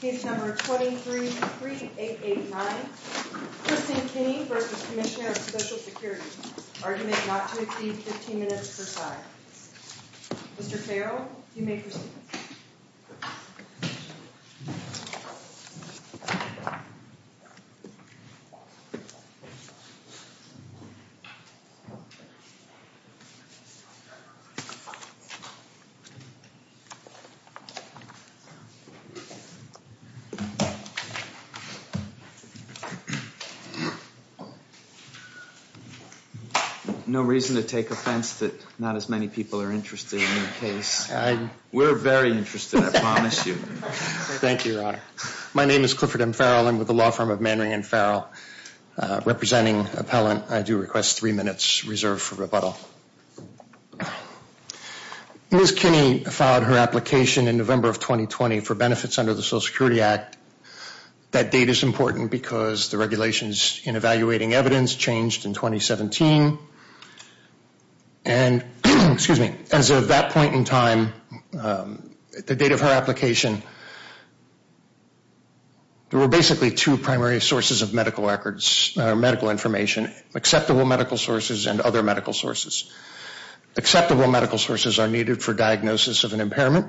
Case number 233889, Christine Kinney v. Comm of Social Security Argument not to exceed 15 minutes per side Mr. Farrell, you may proceed No reason to take offense that not as many people are interested in the case We're very interested, I promise you Thank you, Your Honor My name is Clifford M. Farrell. I'm with the law firm of Manring & Farrell Representing appellant, I do request three minutes reserved for rebuttal Ms. Kinney filed her application in November of 2020 for benefits under the Social Security Act That date is important because the regulations in evaluating evidence changed in 2017 And, excuse me, as of that point in time, the date of her application There were basically two primary sources of medical records, or medical information Acceptable medical sources and other medical sources Acceptable medical sources are needed for diagnosis of an impairment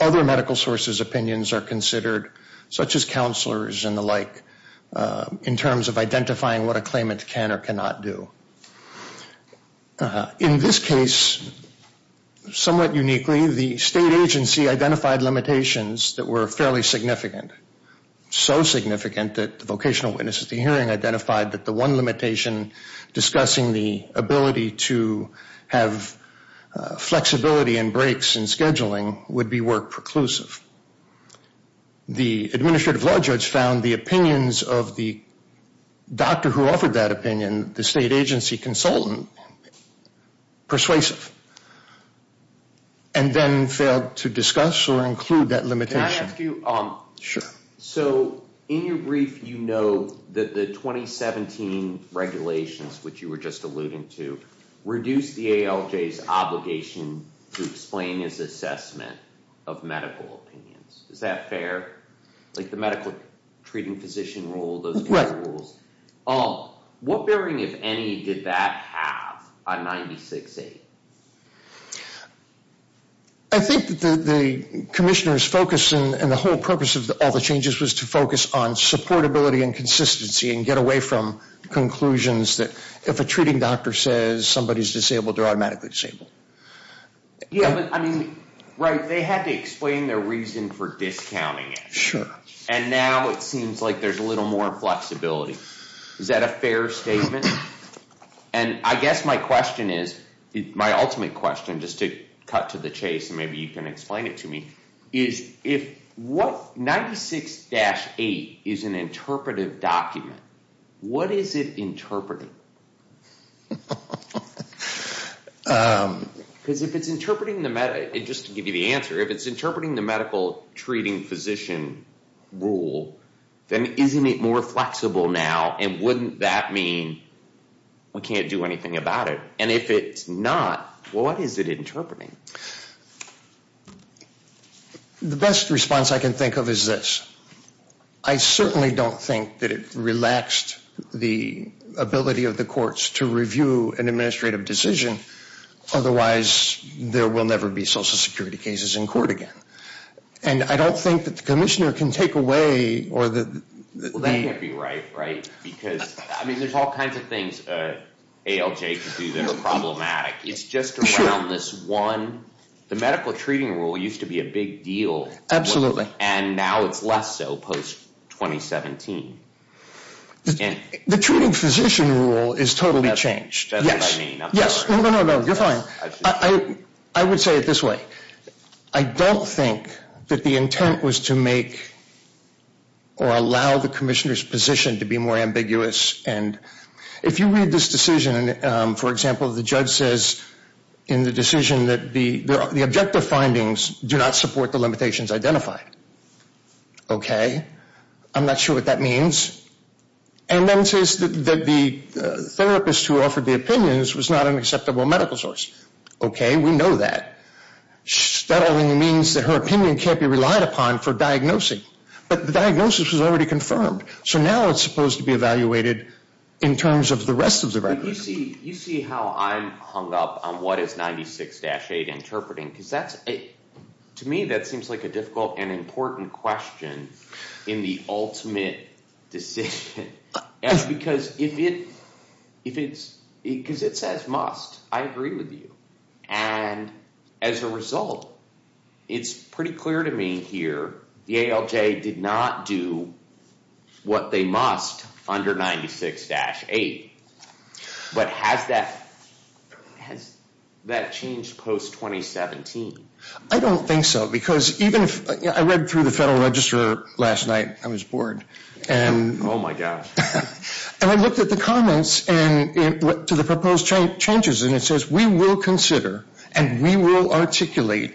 Other medical sources' opinions are considered, such as counselors and the like In terms of identifying what a claimant can or cannot do In this case, somewhat uniquely, the state agency identified limitations that were fairly significant So significant that the vocational witness at the hearing identified that the one limitation Discussing the ability to have flexibility and breaks in scheduling would be work preclusive The administrative law judge found the opinions of the doctor who offered that opinion The state agency consultant persuasive And then failed to discuss or include that limitation Can I ask you? So, in your brief, you know that the 2017 regulations, which you were just alluding to Reduce the ALJ's obligation to explain its assessment of medical opinions Is that fair? Like the medical treating physician rule, those kind of rules What bearing, if any, did that have on 96-8? I think that the commissioner's focus and the whole purpose of all the changes Was to focus on supportability and consistency and get away from conclusions that If a treating doctor says somebody's disabled, they're automatically disabled Yeah, but I mean, right, they had to explain their reason for discounting it Sure And now it seems like there's a little more flexibility Is that a fair statement? And I guess my question is, my ultimate question, just to cut to the chase And maybe you can explain it to me Is if 96-8 is an interpretive document, what is it interpreting? Because if it's interpreting, just to give you the answer If it's interpreting the medical treating physician rule Then isn't it more flexible now? And wouldn't that mean we can't do anything about it? And if it's not, what is it interpreting? The best response I can think of is this I certainly don't think that it relaxed the ability of the courts To review an administrative decision Otherwise, there will never be social security cases in court again And I don't think that the commissioner can take away Well, that can't be right, right? Because, I mean, there's all kinds of things ALJ can do that are problematic It's just around this one The medical treating rule used to be a big deal Absolutely And now it's less so post-2017 The treating physician rule is totally changed That's what I mean No, no, no, you're fine I would say it this way I don't think that the intent was to make Or allow the commissioner's position to be more ambiguous If you read this decision For example, the judge says in the decision That the objective findings do not support the limitations identified Okay I'm not sure what that means And then says that the therapist who offered the opinions Was not an acceptable medical source Okay, we know that That only means that her opinion can't be relied upon for diagnosing But the diagnosis was already confirmed So now it's supposed to be evaluated In terms of the rest of the record You see how I'm hung up on what is 96-8 interpreting Because that's To me, that seems like a difficult and important question In the ultimate decision Because if it Because it says must I agree with you And as a result It's pretty clear to me here The ALJ did not do What they must under 96-8 But has that Has that changed post-2017? I don't think so Because even if I read through the federal register last night I was bored Oh my gosh And I looked at the comments To the proposed changes And it says we will consider And we will articulate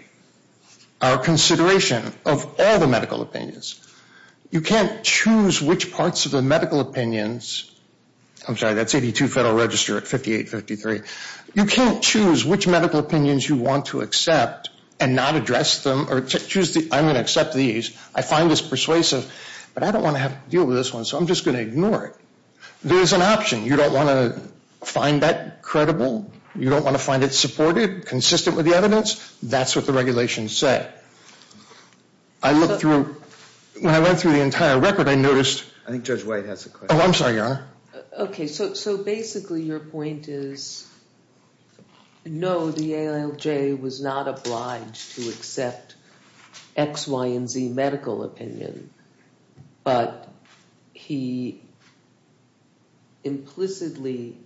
Our consideration of all the medical opinions You can't choose which parts of the medical opinions I'm sorry, that's 82 federal register at 58-53 You can't choose which medical opinions you want to accept And not address them Or choose the I'm going to accept these I find this persuasive But I don't want to have to deal with this one So I'm just going to ignore it There's an option You don't want to Find that credible You don't want to find it supported Consistent with the evidence That's what the regulation said I looked through When I went through the entire record, I noticed I think Judge White has a question Oh, I'm sorry, Your Honor Okay, so basically your point is No, the ALJ was not obliged to accept X, Y, and Z medical opinion But he implicitly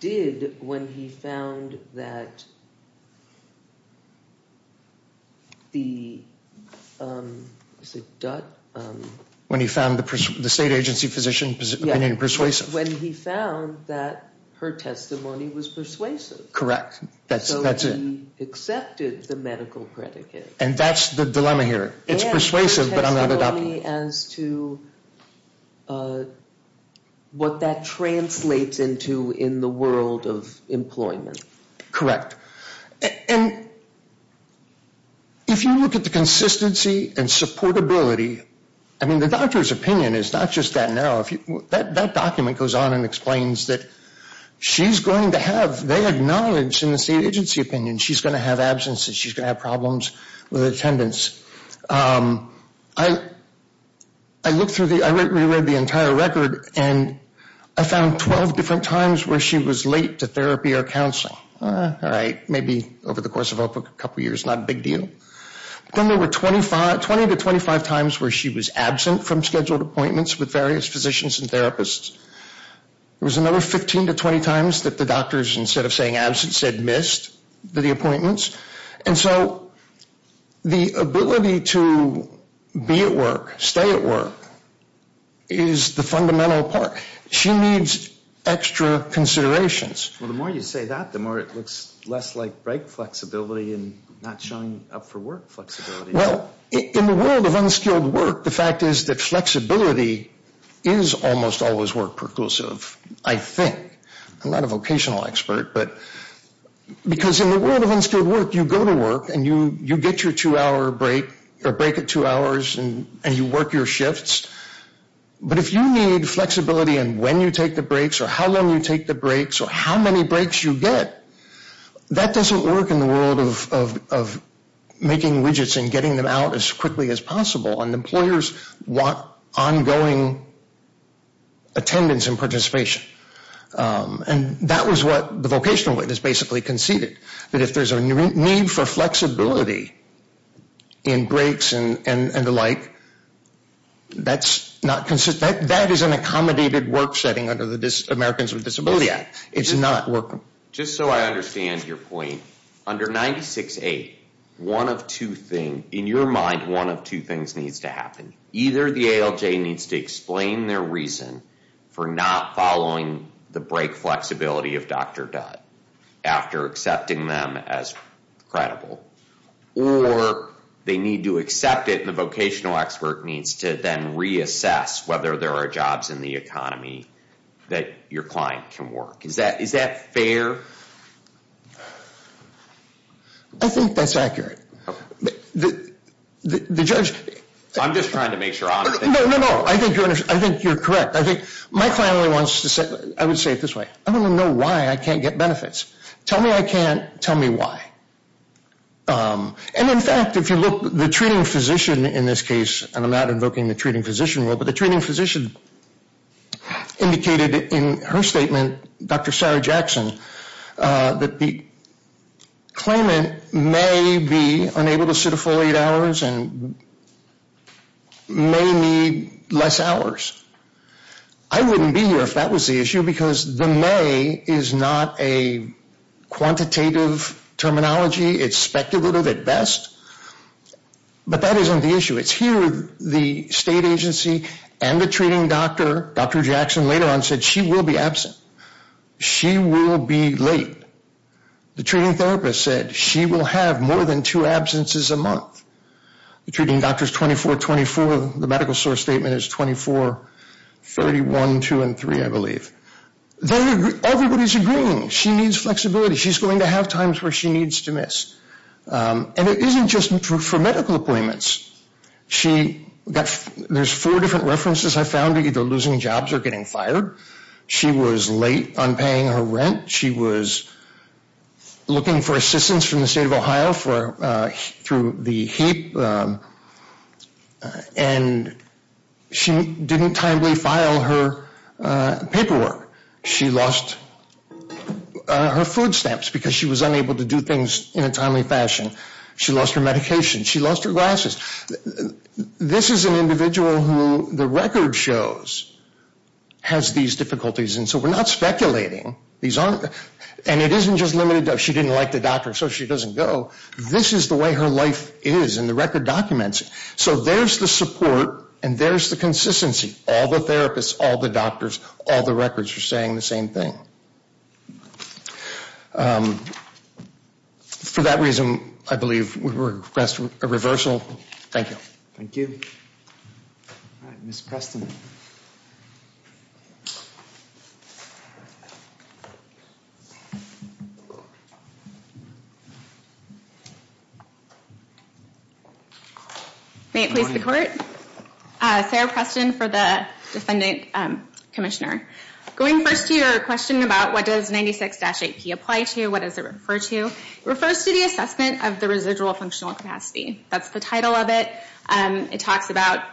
did When he found that When he found the state agency physician opinion persuasive When he found that her testimony was persuasive Correct, that's it So he accepted the medical predicate And that's the dilemma here It's persuasive, but I'm not adopting it As to what that translates into in the world of employment Correct And if you look at the consistency and supportability I mean, the doctor's opinion is not just that narrow That document goes on and explains that She's going to have They acknowledge in the state agency opinion She's going to have absences She's going to have problems With attendance I looked through the I re-read the entire record And I found 12 different times Where she was late to therapy or counseling All right, maybe over the course of a couple years Not a big deal Then there were 20 to 25 times Where she was absent from scheduled appointments With various physicians and therapists There was another 15 to 20 times That the doctors, instead of saying absence, said missed The appointments And so the ability to be at work, stay at work Is the fundamental part She needs extra considerations Well, the more you say that The more it looks less like break flexibility And not showing up for work flexibility Well, in the world of unskilled work The fact is that flexibility Is almost always work perclusive I think I'm not a vocational expert, but Because in the world of unskilled work You go to work And you get your two-hour break Or break at two hours And you work your shifts But if you need flexibility In when you take the breaks Or how long you take the breaks Or how many breaks you get That doesn't work in the world of Making widgets and getting them out As quickly as possible And employers want ongoing Attendance and participation And that was what The vocational witness basically conceded That if there's a need for flexibility In breaks and the like That is an accommodated work setting Under the Americans with Disabilities Act It's not work Just so I understand your point Under 96-8 One of two things In your mind One of two things needs to happen Either the ALJ needs to explain their reason For not following The break flexibility of Dr. Dutt After accepting them as credible Or they need to accept it And the vocational expert Needs to then reassess Whether there are jobs in the economy That your client can work Is that fair? I think that's accurate The judge I'm just trying to make sure No, no, no I think you're correct My client only wants to say I would say it this way I want to know why I can't get benefits Tell me I can't Tell me why And in fact, if you look The treating physician in this case And I'm not invoking the treating physician But the treating physician Indicated in her statement Dr. Sarah Jackson That the claimant May be unable to sit a full eight hours And may need less hours I wouldn't be here if that was the issue Because the may Is not a quantitative terminology It's speculative at best But that isn't the issue It's here the state agency And the treating doctor Dr. Jackson later on said She will be absent She will be late The treating therapist said She will have more than two absences a month The treating doctor is 24-24 The medical source statement is 24-31-2-3 I believe Everybody's agreeing She needs flexibility She's going to have times Where she needs to miss And it isn't just for medical appointments There's four different references I found Either losing jobs or getting fired She was late on paying her rent She was looking for assistance From the state of Ohio Through the HEAP And she didn't timely file her paperwork She lost her food stamps Because she was unable to do things In a timely fashion She lost her medication She lost her glasses This is an individual who The record shows Has these difficulties And so we're not speculating And it isn't just limited to She didn't like the doctor So she doesn't go This is the way her life is And the record documents it So there's the support And there's the consistency All the therapists All the doctors All the records are saying the same thing For that reason I believe we request a reversal Thank you Thank you Ms. Preston May it please the court Sarah Preston for the defendant Commissioner Going first to your question about What does 96-8P apply to What does it refer to It refers to the assessment Of the residual functional capacity That's the title of it It talks about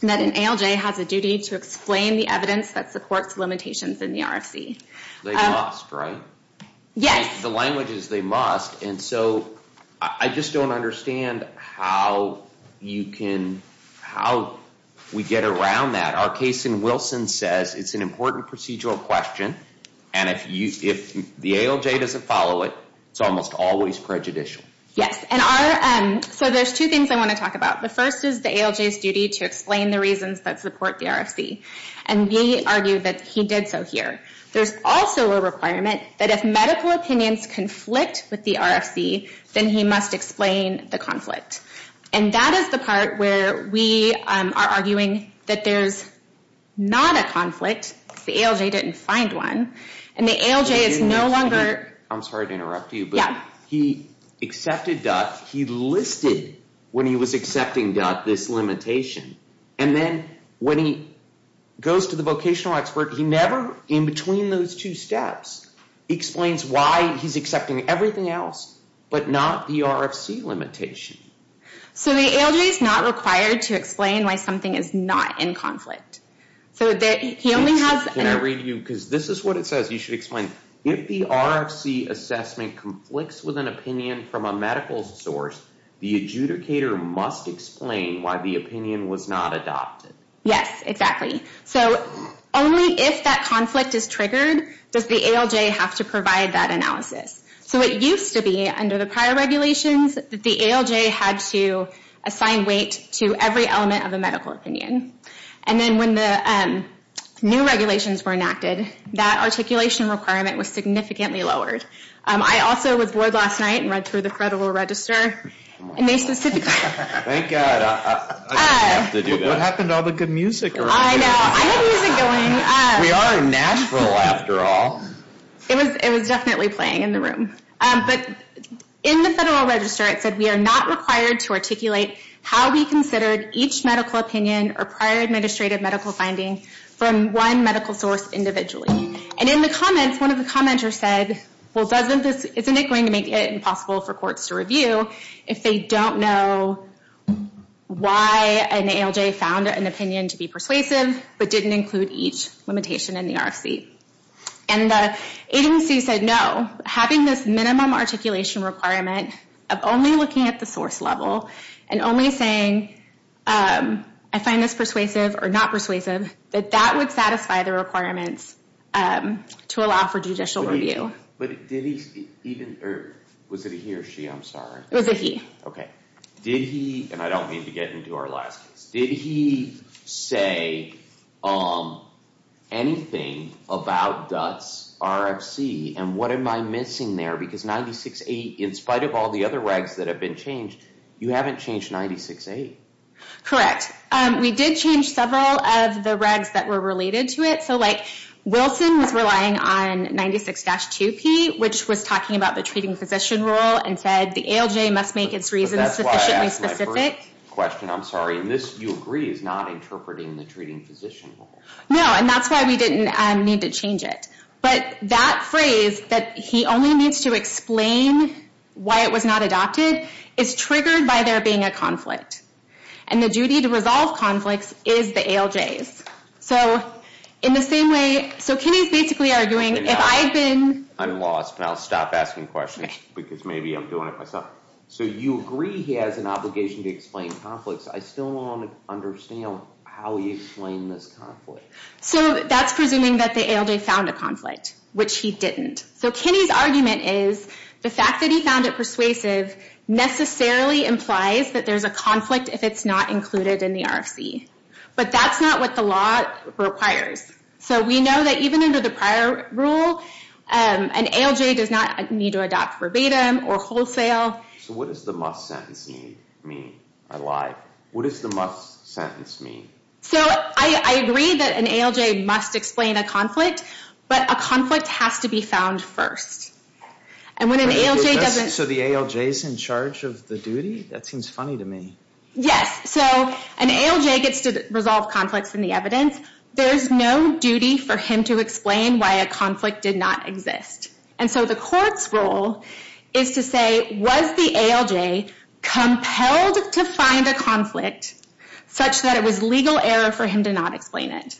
That an ALJ has a duty To explain the evidence That supports limitations in the RFC They must, right? Yes The language is they must And so I just don't understand How you can How we get around that Our case in Wilson says It's an important procedural question And if the ALJ doesn't follow it It's almost always prejudicial Yes So there's two things I want to talk about The first is the ALJ's duty To explain the reasons That support the RFC And we argue that he did so here There's also a requirement That if medical opinions Conflict with the RFC Then he must explain the conflict And that is the part Where we are arguing That there's not a conflict Because the ALJ didn't find one And the ALJ is no longer I'm sorry to interrupt you But he accepted He listed when he was accepting This limitation And then when he Goes to the vocational expert He never in between those two steps Explains why he's accepting Everything else But not the RFC limitation So the ALJ is not required To explain why something Is not in conflict So that he only has Can I read you Because this is what it says You should explain If the RFC assessment Conflicts with an opinion From a medical source The adjudicator must explain Why the opinion was not adopted Yes, exactly So only if that conflict is triggered Does the ALJ have to provide that analysis So it used to be Under the prior regulations That the ALJ had to assign weight To every element of a medical opinion And then when the New regulations were enacted That articulation requirement Was significantly lowered I also was bored last night And read through the federal register And they specifically Thank God What happened to all the good music I know, I had music going We are in Nashville after all It was definitely playing in the room But in the federal register It said we are not required To articulate how we considered Each medical opinion Or prior administrative medical finding From one medical source individually And in the comments One of the commenters said Well doesn't this Isn't it going to make it impossible For courts to review If they don't know Why an ALJ found an opinion To be persuasive But didn't include each limitation In the RFC And the agency said no Having this minimum articulation requirement Of only looking at the source level And only saying I find this persuasive Or not persuasive That that would satisfy the requirements To allow for judicial review But did he even Was it he or she, I'm sorry It was a he Did he And I don't mean to get into our last case Did he say Anything about DUTS RFC And what am I missing there Because 96.8 In spite of all the other regs That have been changed You haven't changed 96.8 Correct We did change several of the regs That were related to it So like 96-2P Which was talking about the treating physician rule And said the ALJ must make its reasons Sufficiently specific Question, I'm sorry And this, you agree Is not interpreting the treating physician rule No, and that's why we didn't need to change it But that phrase That he only needs to explain Why it was not adopted Is triggered by there being a conflict And the duty to resolve conflicts Is the ALJ's So in the same way So Kinney's basically arguing If I've been I'm lost and I'll stop asking questions Because maybe I'm doing it myself So you agree he has an obligation To explain conflicts I still don't understand How he explained this conflict So that's presuming that the ALJ Found a conflict Which he didn't So Kinney's argument is The fact that he found it persuasive Necessarily implies that there's a conflict If it's not included in the RFC But that's not what the law requires So we know that even under the prior rule An ALJ does not need to adopt verbatim Or wholesale So what does the must sentence mean? I lied What does the must sentence mean? So I agree that an ALJ must explain a conflict But a conflict has to be found first And when an ALJ doesn't So the ALJ's in charge of the duty? That seems funny to me Yes, so an ALJ gets to resolve conflicts In the evidence There's no duty for him to explain Why a conflict did not exist And so the court's role Is to say Was the ALJ compelled to find a conflict Such that it was legal error For him to not explain it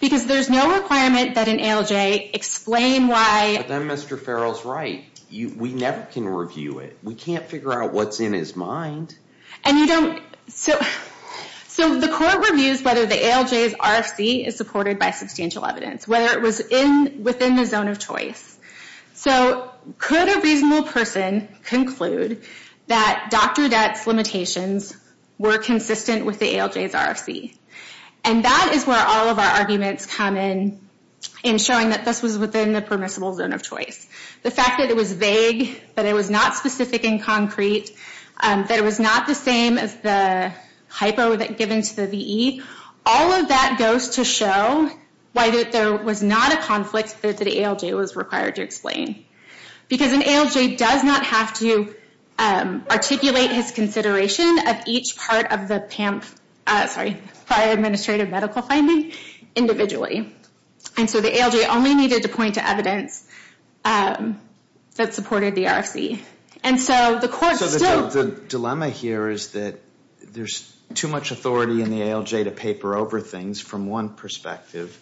Because there's no requirement That an ALJ explain why But then Mr. Farrell's right We never can review it We can't figure out what's in his mind And you don't So the court reviews Whether the ALJ's RFC Is supported by substantial evidence Whether it was within the zone of choice So could a reasonable person Conclude that Dr. Dett's limitations Were consistent with the ALJ's RFC And that is where all of our arguments come in In showing that this was within The permissible zone of choice The fact that it was vague That it was not specific and concrete That it was not the same as the Hypo given to the VE All of that goes to show Why there was not a conflict That the ALJ was required to explain Because an ALJ does not have to Articulate his consideration Of each part of the PAMF Sorry, prior administrative medical finding Individually And so the ALJ only needed to point to evidence That supported the RFC And so the court still So the dilemma here is that There's too much authority in the ALJ To paper over things from one perspective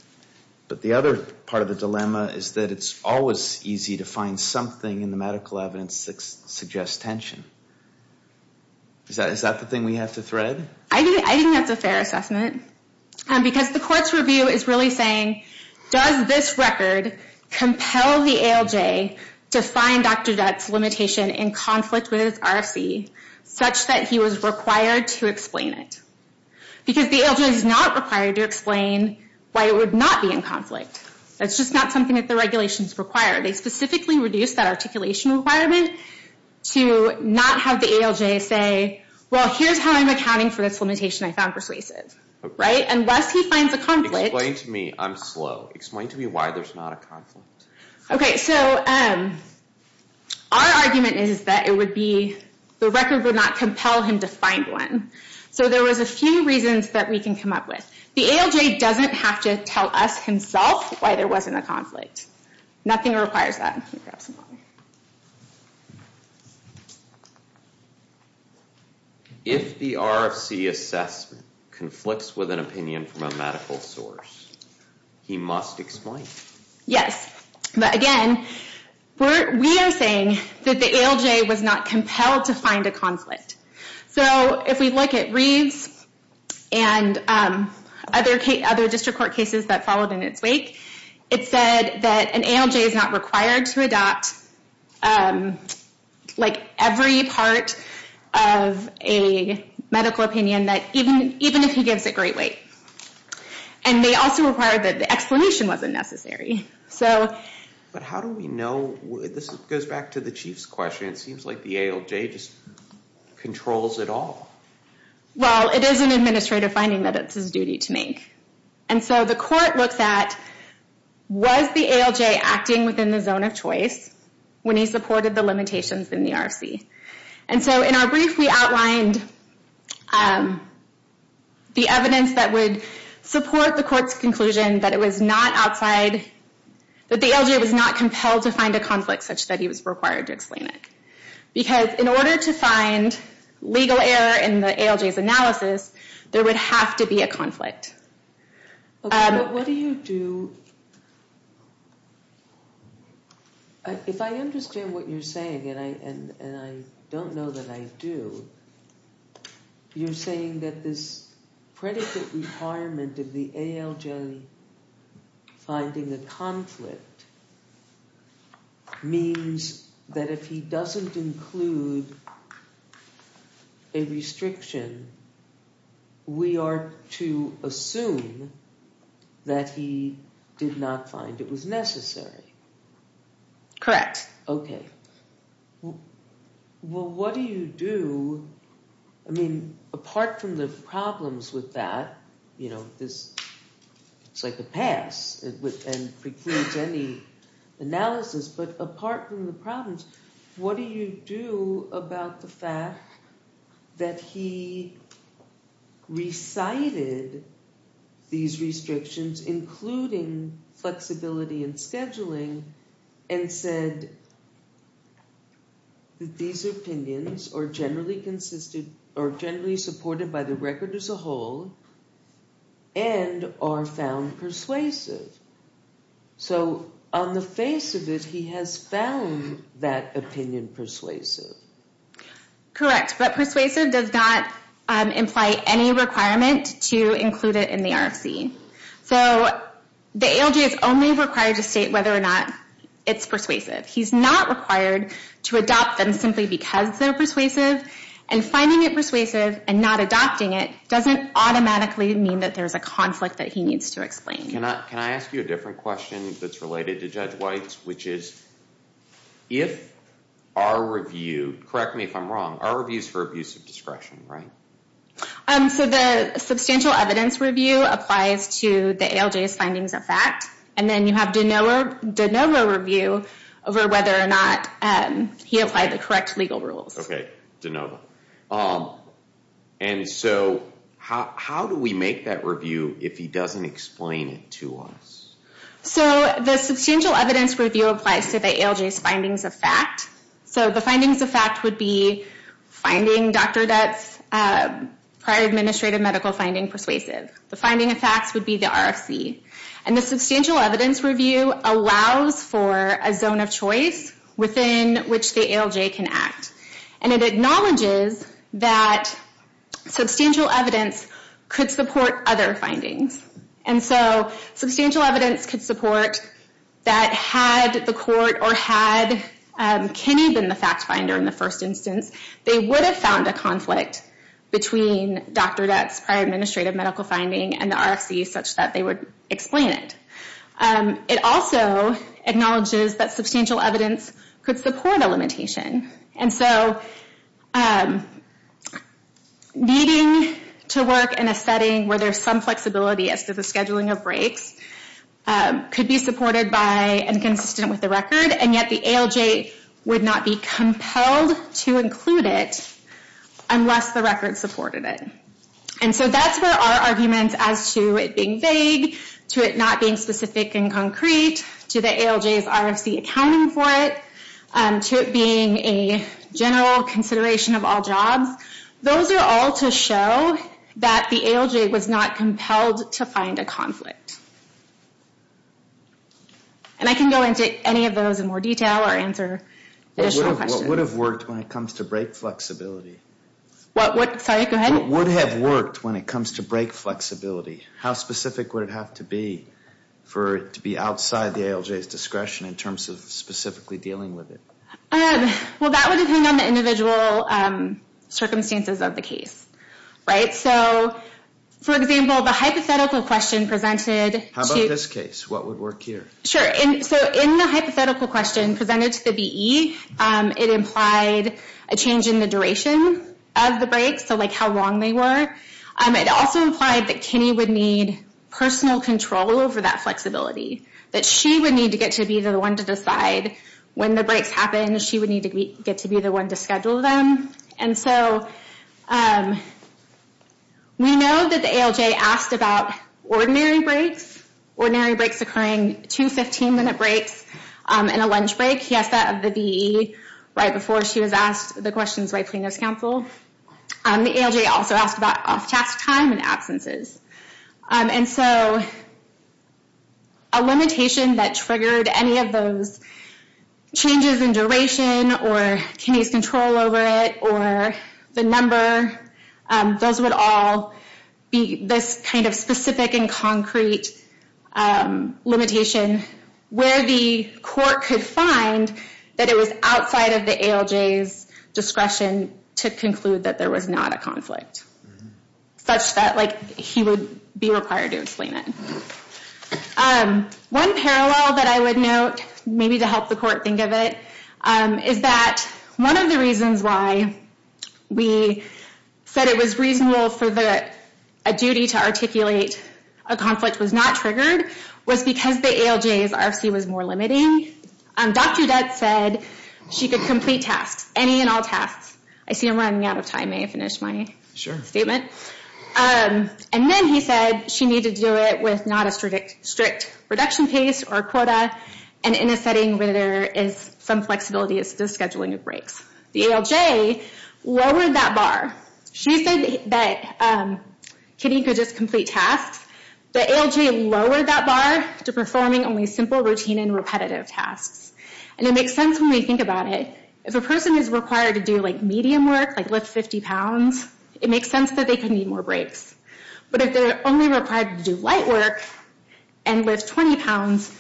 But the other part of the dilemma Is that it's always easy to find something In the medical evidence that suggests tension Is that the thing we have to thread? I think that's a fair assessment Because the court's review is really saying Does this record compel the ALJ To find Dr. Dett's limitation In conflict with his RFC Such that he was required to explain it Because the ALJ is not required to explain Why it would not be in conflict That's just not something that the regulations require They specifically reduce that articulation requirement To not have the ALJ say Well here's how I'm accounting for this limitation I found persuasive Right? Unless he finds a conflict Explain to me, I'm slow Explain to me why there's not a conflict Okay, so Our argument is that it would be The record would not compel him to find one So there was a few reasons that we can come up with The ALJ doesn't have to tell us himself Why there wasn't a conflict Nothing requires that If the RFC assessment Conflicts with an opinion from a medical source He must explain Yes, but again We are saying That the ALJ was not compelled to find a conflict So if we look at Reeves And other district court cases that followed in its wake It said that an ALJ is not required to adopt Like every part of a medical opinion That even if he gives it great weight And they also required that the explanation wasn't necessary So But how do we know This goes back to the Chief's question It seems like the ALJ just Controls it all Well, it is an administrative finding that it's his duty to make And so the court looks at Was the ALJ acting within the zone of choice When he supported the limitations in the RFC And so in our brief we outlined The evidence that would Support the court's conclusion that it was not outside That the ALJ was not compelled to find a conflict Such that he was required to explain it Because in order to find Legal error in the ALJ's analysis There would have to be a conflict But what do you do If I understand what you're saying And I don't know that I do You're saying that this Predicate requirement of the ALJ Finding a conflict Means that if he doesn't include A restriction We are to assume That he did not find it was necessary Correct Okay Well, what do you do I mean, apart from the problems with that You know, this It's like a pass And precludes any analysis But apart from the problems What do you do about the fact That he Recited These restrictions including Flexibility and scheduling And said That these opinions are generally consisted Or generally supported by the record as a whole And are found persuasive So on the face of it He has found that opinion persuasive Correct, but persuasive does not Imply any requirement to include it in the RFC So the ALJ is only required to state Whether or not it's persuasive He's not required to adopt them Simply because they're persuasive And finding it persuasive And not adopting it Doesn't automatically mean that there's a conflict That he needs to explain Can I ask you a different question That's related to Judge White Which is If our review Correct me if I'm wrong Our reviews for abuse of discretion, right So the substantial evidence review applies to The ALJ's findings of fact And then you have DeNova review Over whether or not He applied the correct legal rules Okay, DeNova And so how do we make that review If he doesn't explain it to us So the substantial evidence review applies to The ALJ's findings of fact So the findings of fact would be Finding Dr. Depp's Prior administrative medical finding persuasive The finding of facts would be the RFC And the substantial evidence review Allows for a zone of choice Within which the ALJ can act And it acknowledges that Substantial evidence Could support other findings And so Substantial evidence could support That had the court or had Kenny been the fact finder in the first instance They would have found a conflict Between Dr. Depp's Prior administrative medical finding And the RFC such that they would explain it It also Acknowledges that substantial evidence Could support a limitation And so Needing To work in a setting where there's some flexibility As to the scheduling of breaks Could be supported by And consistent with the record And yet the ALJ Would not be compelled to include it Unless the record supported it And so that's where our argument As to it being vague To it not being specific and concrete To the ALJ's RFC accounting for it To it being a General consideration of all jobs Those are all to show That the ALJ was not compelled To find a conflict And I can go into any of those in more detail Or answer additional questions What would have worked when it comes to break flexibility? What would, sorry, go ahead What would have worked when it comes to break flexibility? How specific would it have to be For it to be outside the ALJ's discretion In terms of specifically dealing with it? Well that would depend on the individual Circumstances of the case Right, so For example, the hypothetical question presented How about this case, what would work here? Sure, so in the hypothetical question Presented to the BE It implied a change in the duration Of the breaks, so like how long they were It also implied that Kinney would need Personal control over that flexibility That she would need to get to be the one To decide when the breaks happen She would need to get to be the one To schedule them, and so We know that the ALJ asked about Ordinary breaks Ordinary breaks occurring, two 15 minute breaks And a lunch break, yes that of the BE Right before she was asked The questions by Plano's counsel The ALJ also asked about off task time And absences And so A limitation that triggered any of those Changes in duration Or Kinney's control over it Or the number Those would all Be this kind of specific and concrete Limitation Where the court could find That it was outside of the ALJ's Discretion to conclude that there was not a conflict Such that he would be required to explain it One parallel that I would note Maybe to help the court think of it Is that one of the reasons why We said it was reasonable for the A duty to articulate A conflict was not triggered Was because the ALJ's RC was more limiting Dr. Dutz said She could complete tasks, any and all tasks I see I'm running out of time May I finish my statement? And then he said She needed to do it with not a strict Reduction pace or quota And in a setting where there is Some flexibility as to the scheduling of breaks The ALJ Lowered that bar She said that Kinney could just complete tasks The ALJ lowered that bar To performing only simple routine and repetitive tasks And it makes sense when we think about it If a person is required to do Medium work, like lift 50 pounds It makes sense that they could need more breaks But if they're only required to do Light work And lift 20 pounds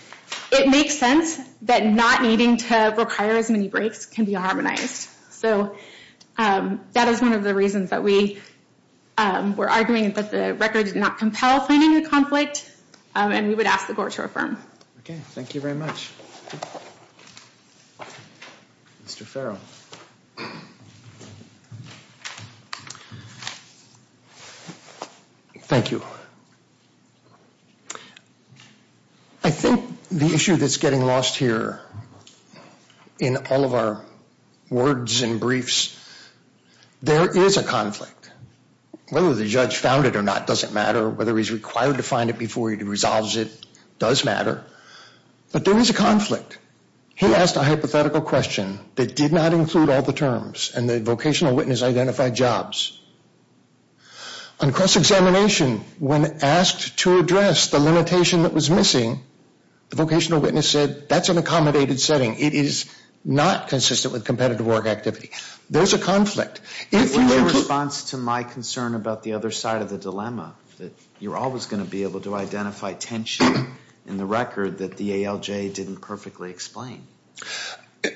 It makes sense that not needing to Require as many breaks can be harmonized So That is one of the reasons that we Were arguing that the record Did not compel finding a conflict And we would ask the court to affirm Okay, thank you very much Mr. Farrell Thank you I think the issue that's getting Lost here In all of our Words and briefs There is a conflict Whether the judge found it or not doesn't matter Whether he's required to find it before He resolves it does matter But there is a conflict He asked a hypothetical question That did not include all the terms And the vocational witness identified jobs On cross-examination When asked to address the limitation that was missing The vocational witness said That's an accommodated setting It is not consistent with competitive work activity There's a conflict If you were to In response to my concern about the other side of the dilemma That you're always going to be able to identify Tension in the record That the ALJ didn't perfectly explain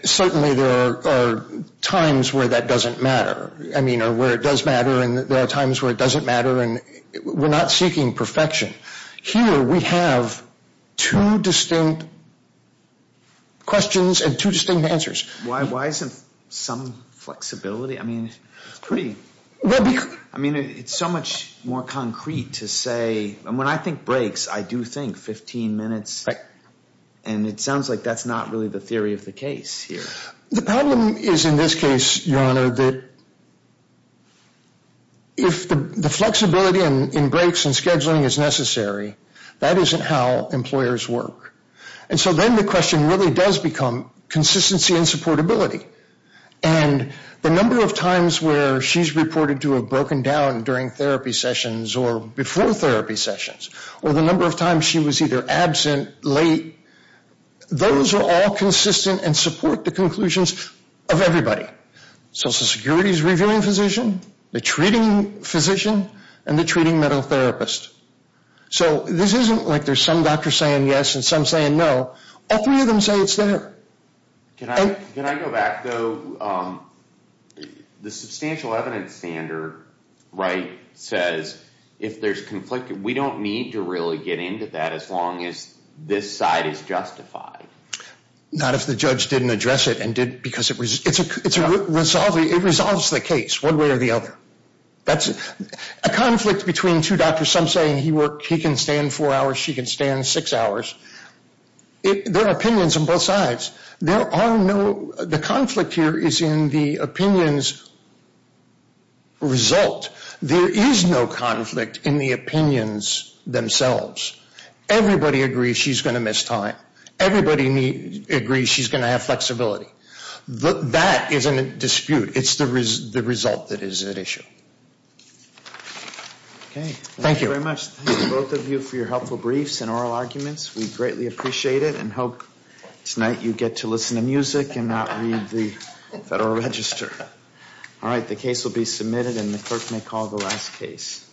Certainly there are Times where that doesn't matter I mean or where it does matter And there are times where it doesn't matter And we're not seeking perfection Here we have Two distinct Questions and two distinct answers Why isn't some Flexibility I mean it's pretty I mean it's so much more concrete to say When I think breaks I do think 15 minutes And it sounds like that's not really the theory of the case Here The problem is in this case your honor that If the flexibility In breaks and scheduling is necessary That isn't how employers work And so then the question Really does become consistency And supportability And the number of times where She's reported to have broken down during Therapy sessions or before Therapy sessions or the number of times She was either absent, late Those are all Consistent and support the conclusions Of everybody Social security's reviewing physician The treating physician And the treating medical therapist So this isn't like there's some doctor Saying yes and some saying no All three of them say it's there Can I go back though The substantial Evidence standard Says if there's Conflict we don't need to really get into That as long as this side Is justified Not if the judge didn't address it Because it resolves The case one way or the other That's a conflict Between two doctors some saying he Can stand four hours she can stand six Hours There are opinions on both sides The conflict here is In the opinions Result There is no conflict in the Opinions themselves Everybody agrees she's going to miss Time everybody Agrees she's going to have flexibility That isn't a dispute It's the result that is at issue Thank you very much Both of you for your helpful briefs and oral arguments We greatly appreciate it and hope Tonight you get to listen to music And not read the federal register All right the case will be Submitted and the clerk may call the last case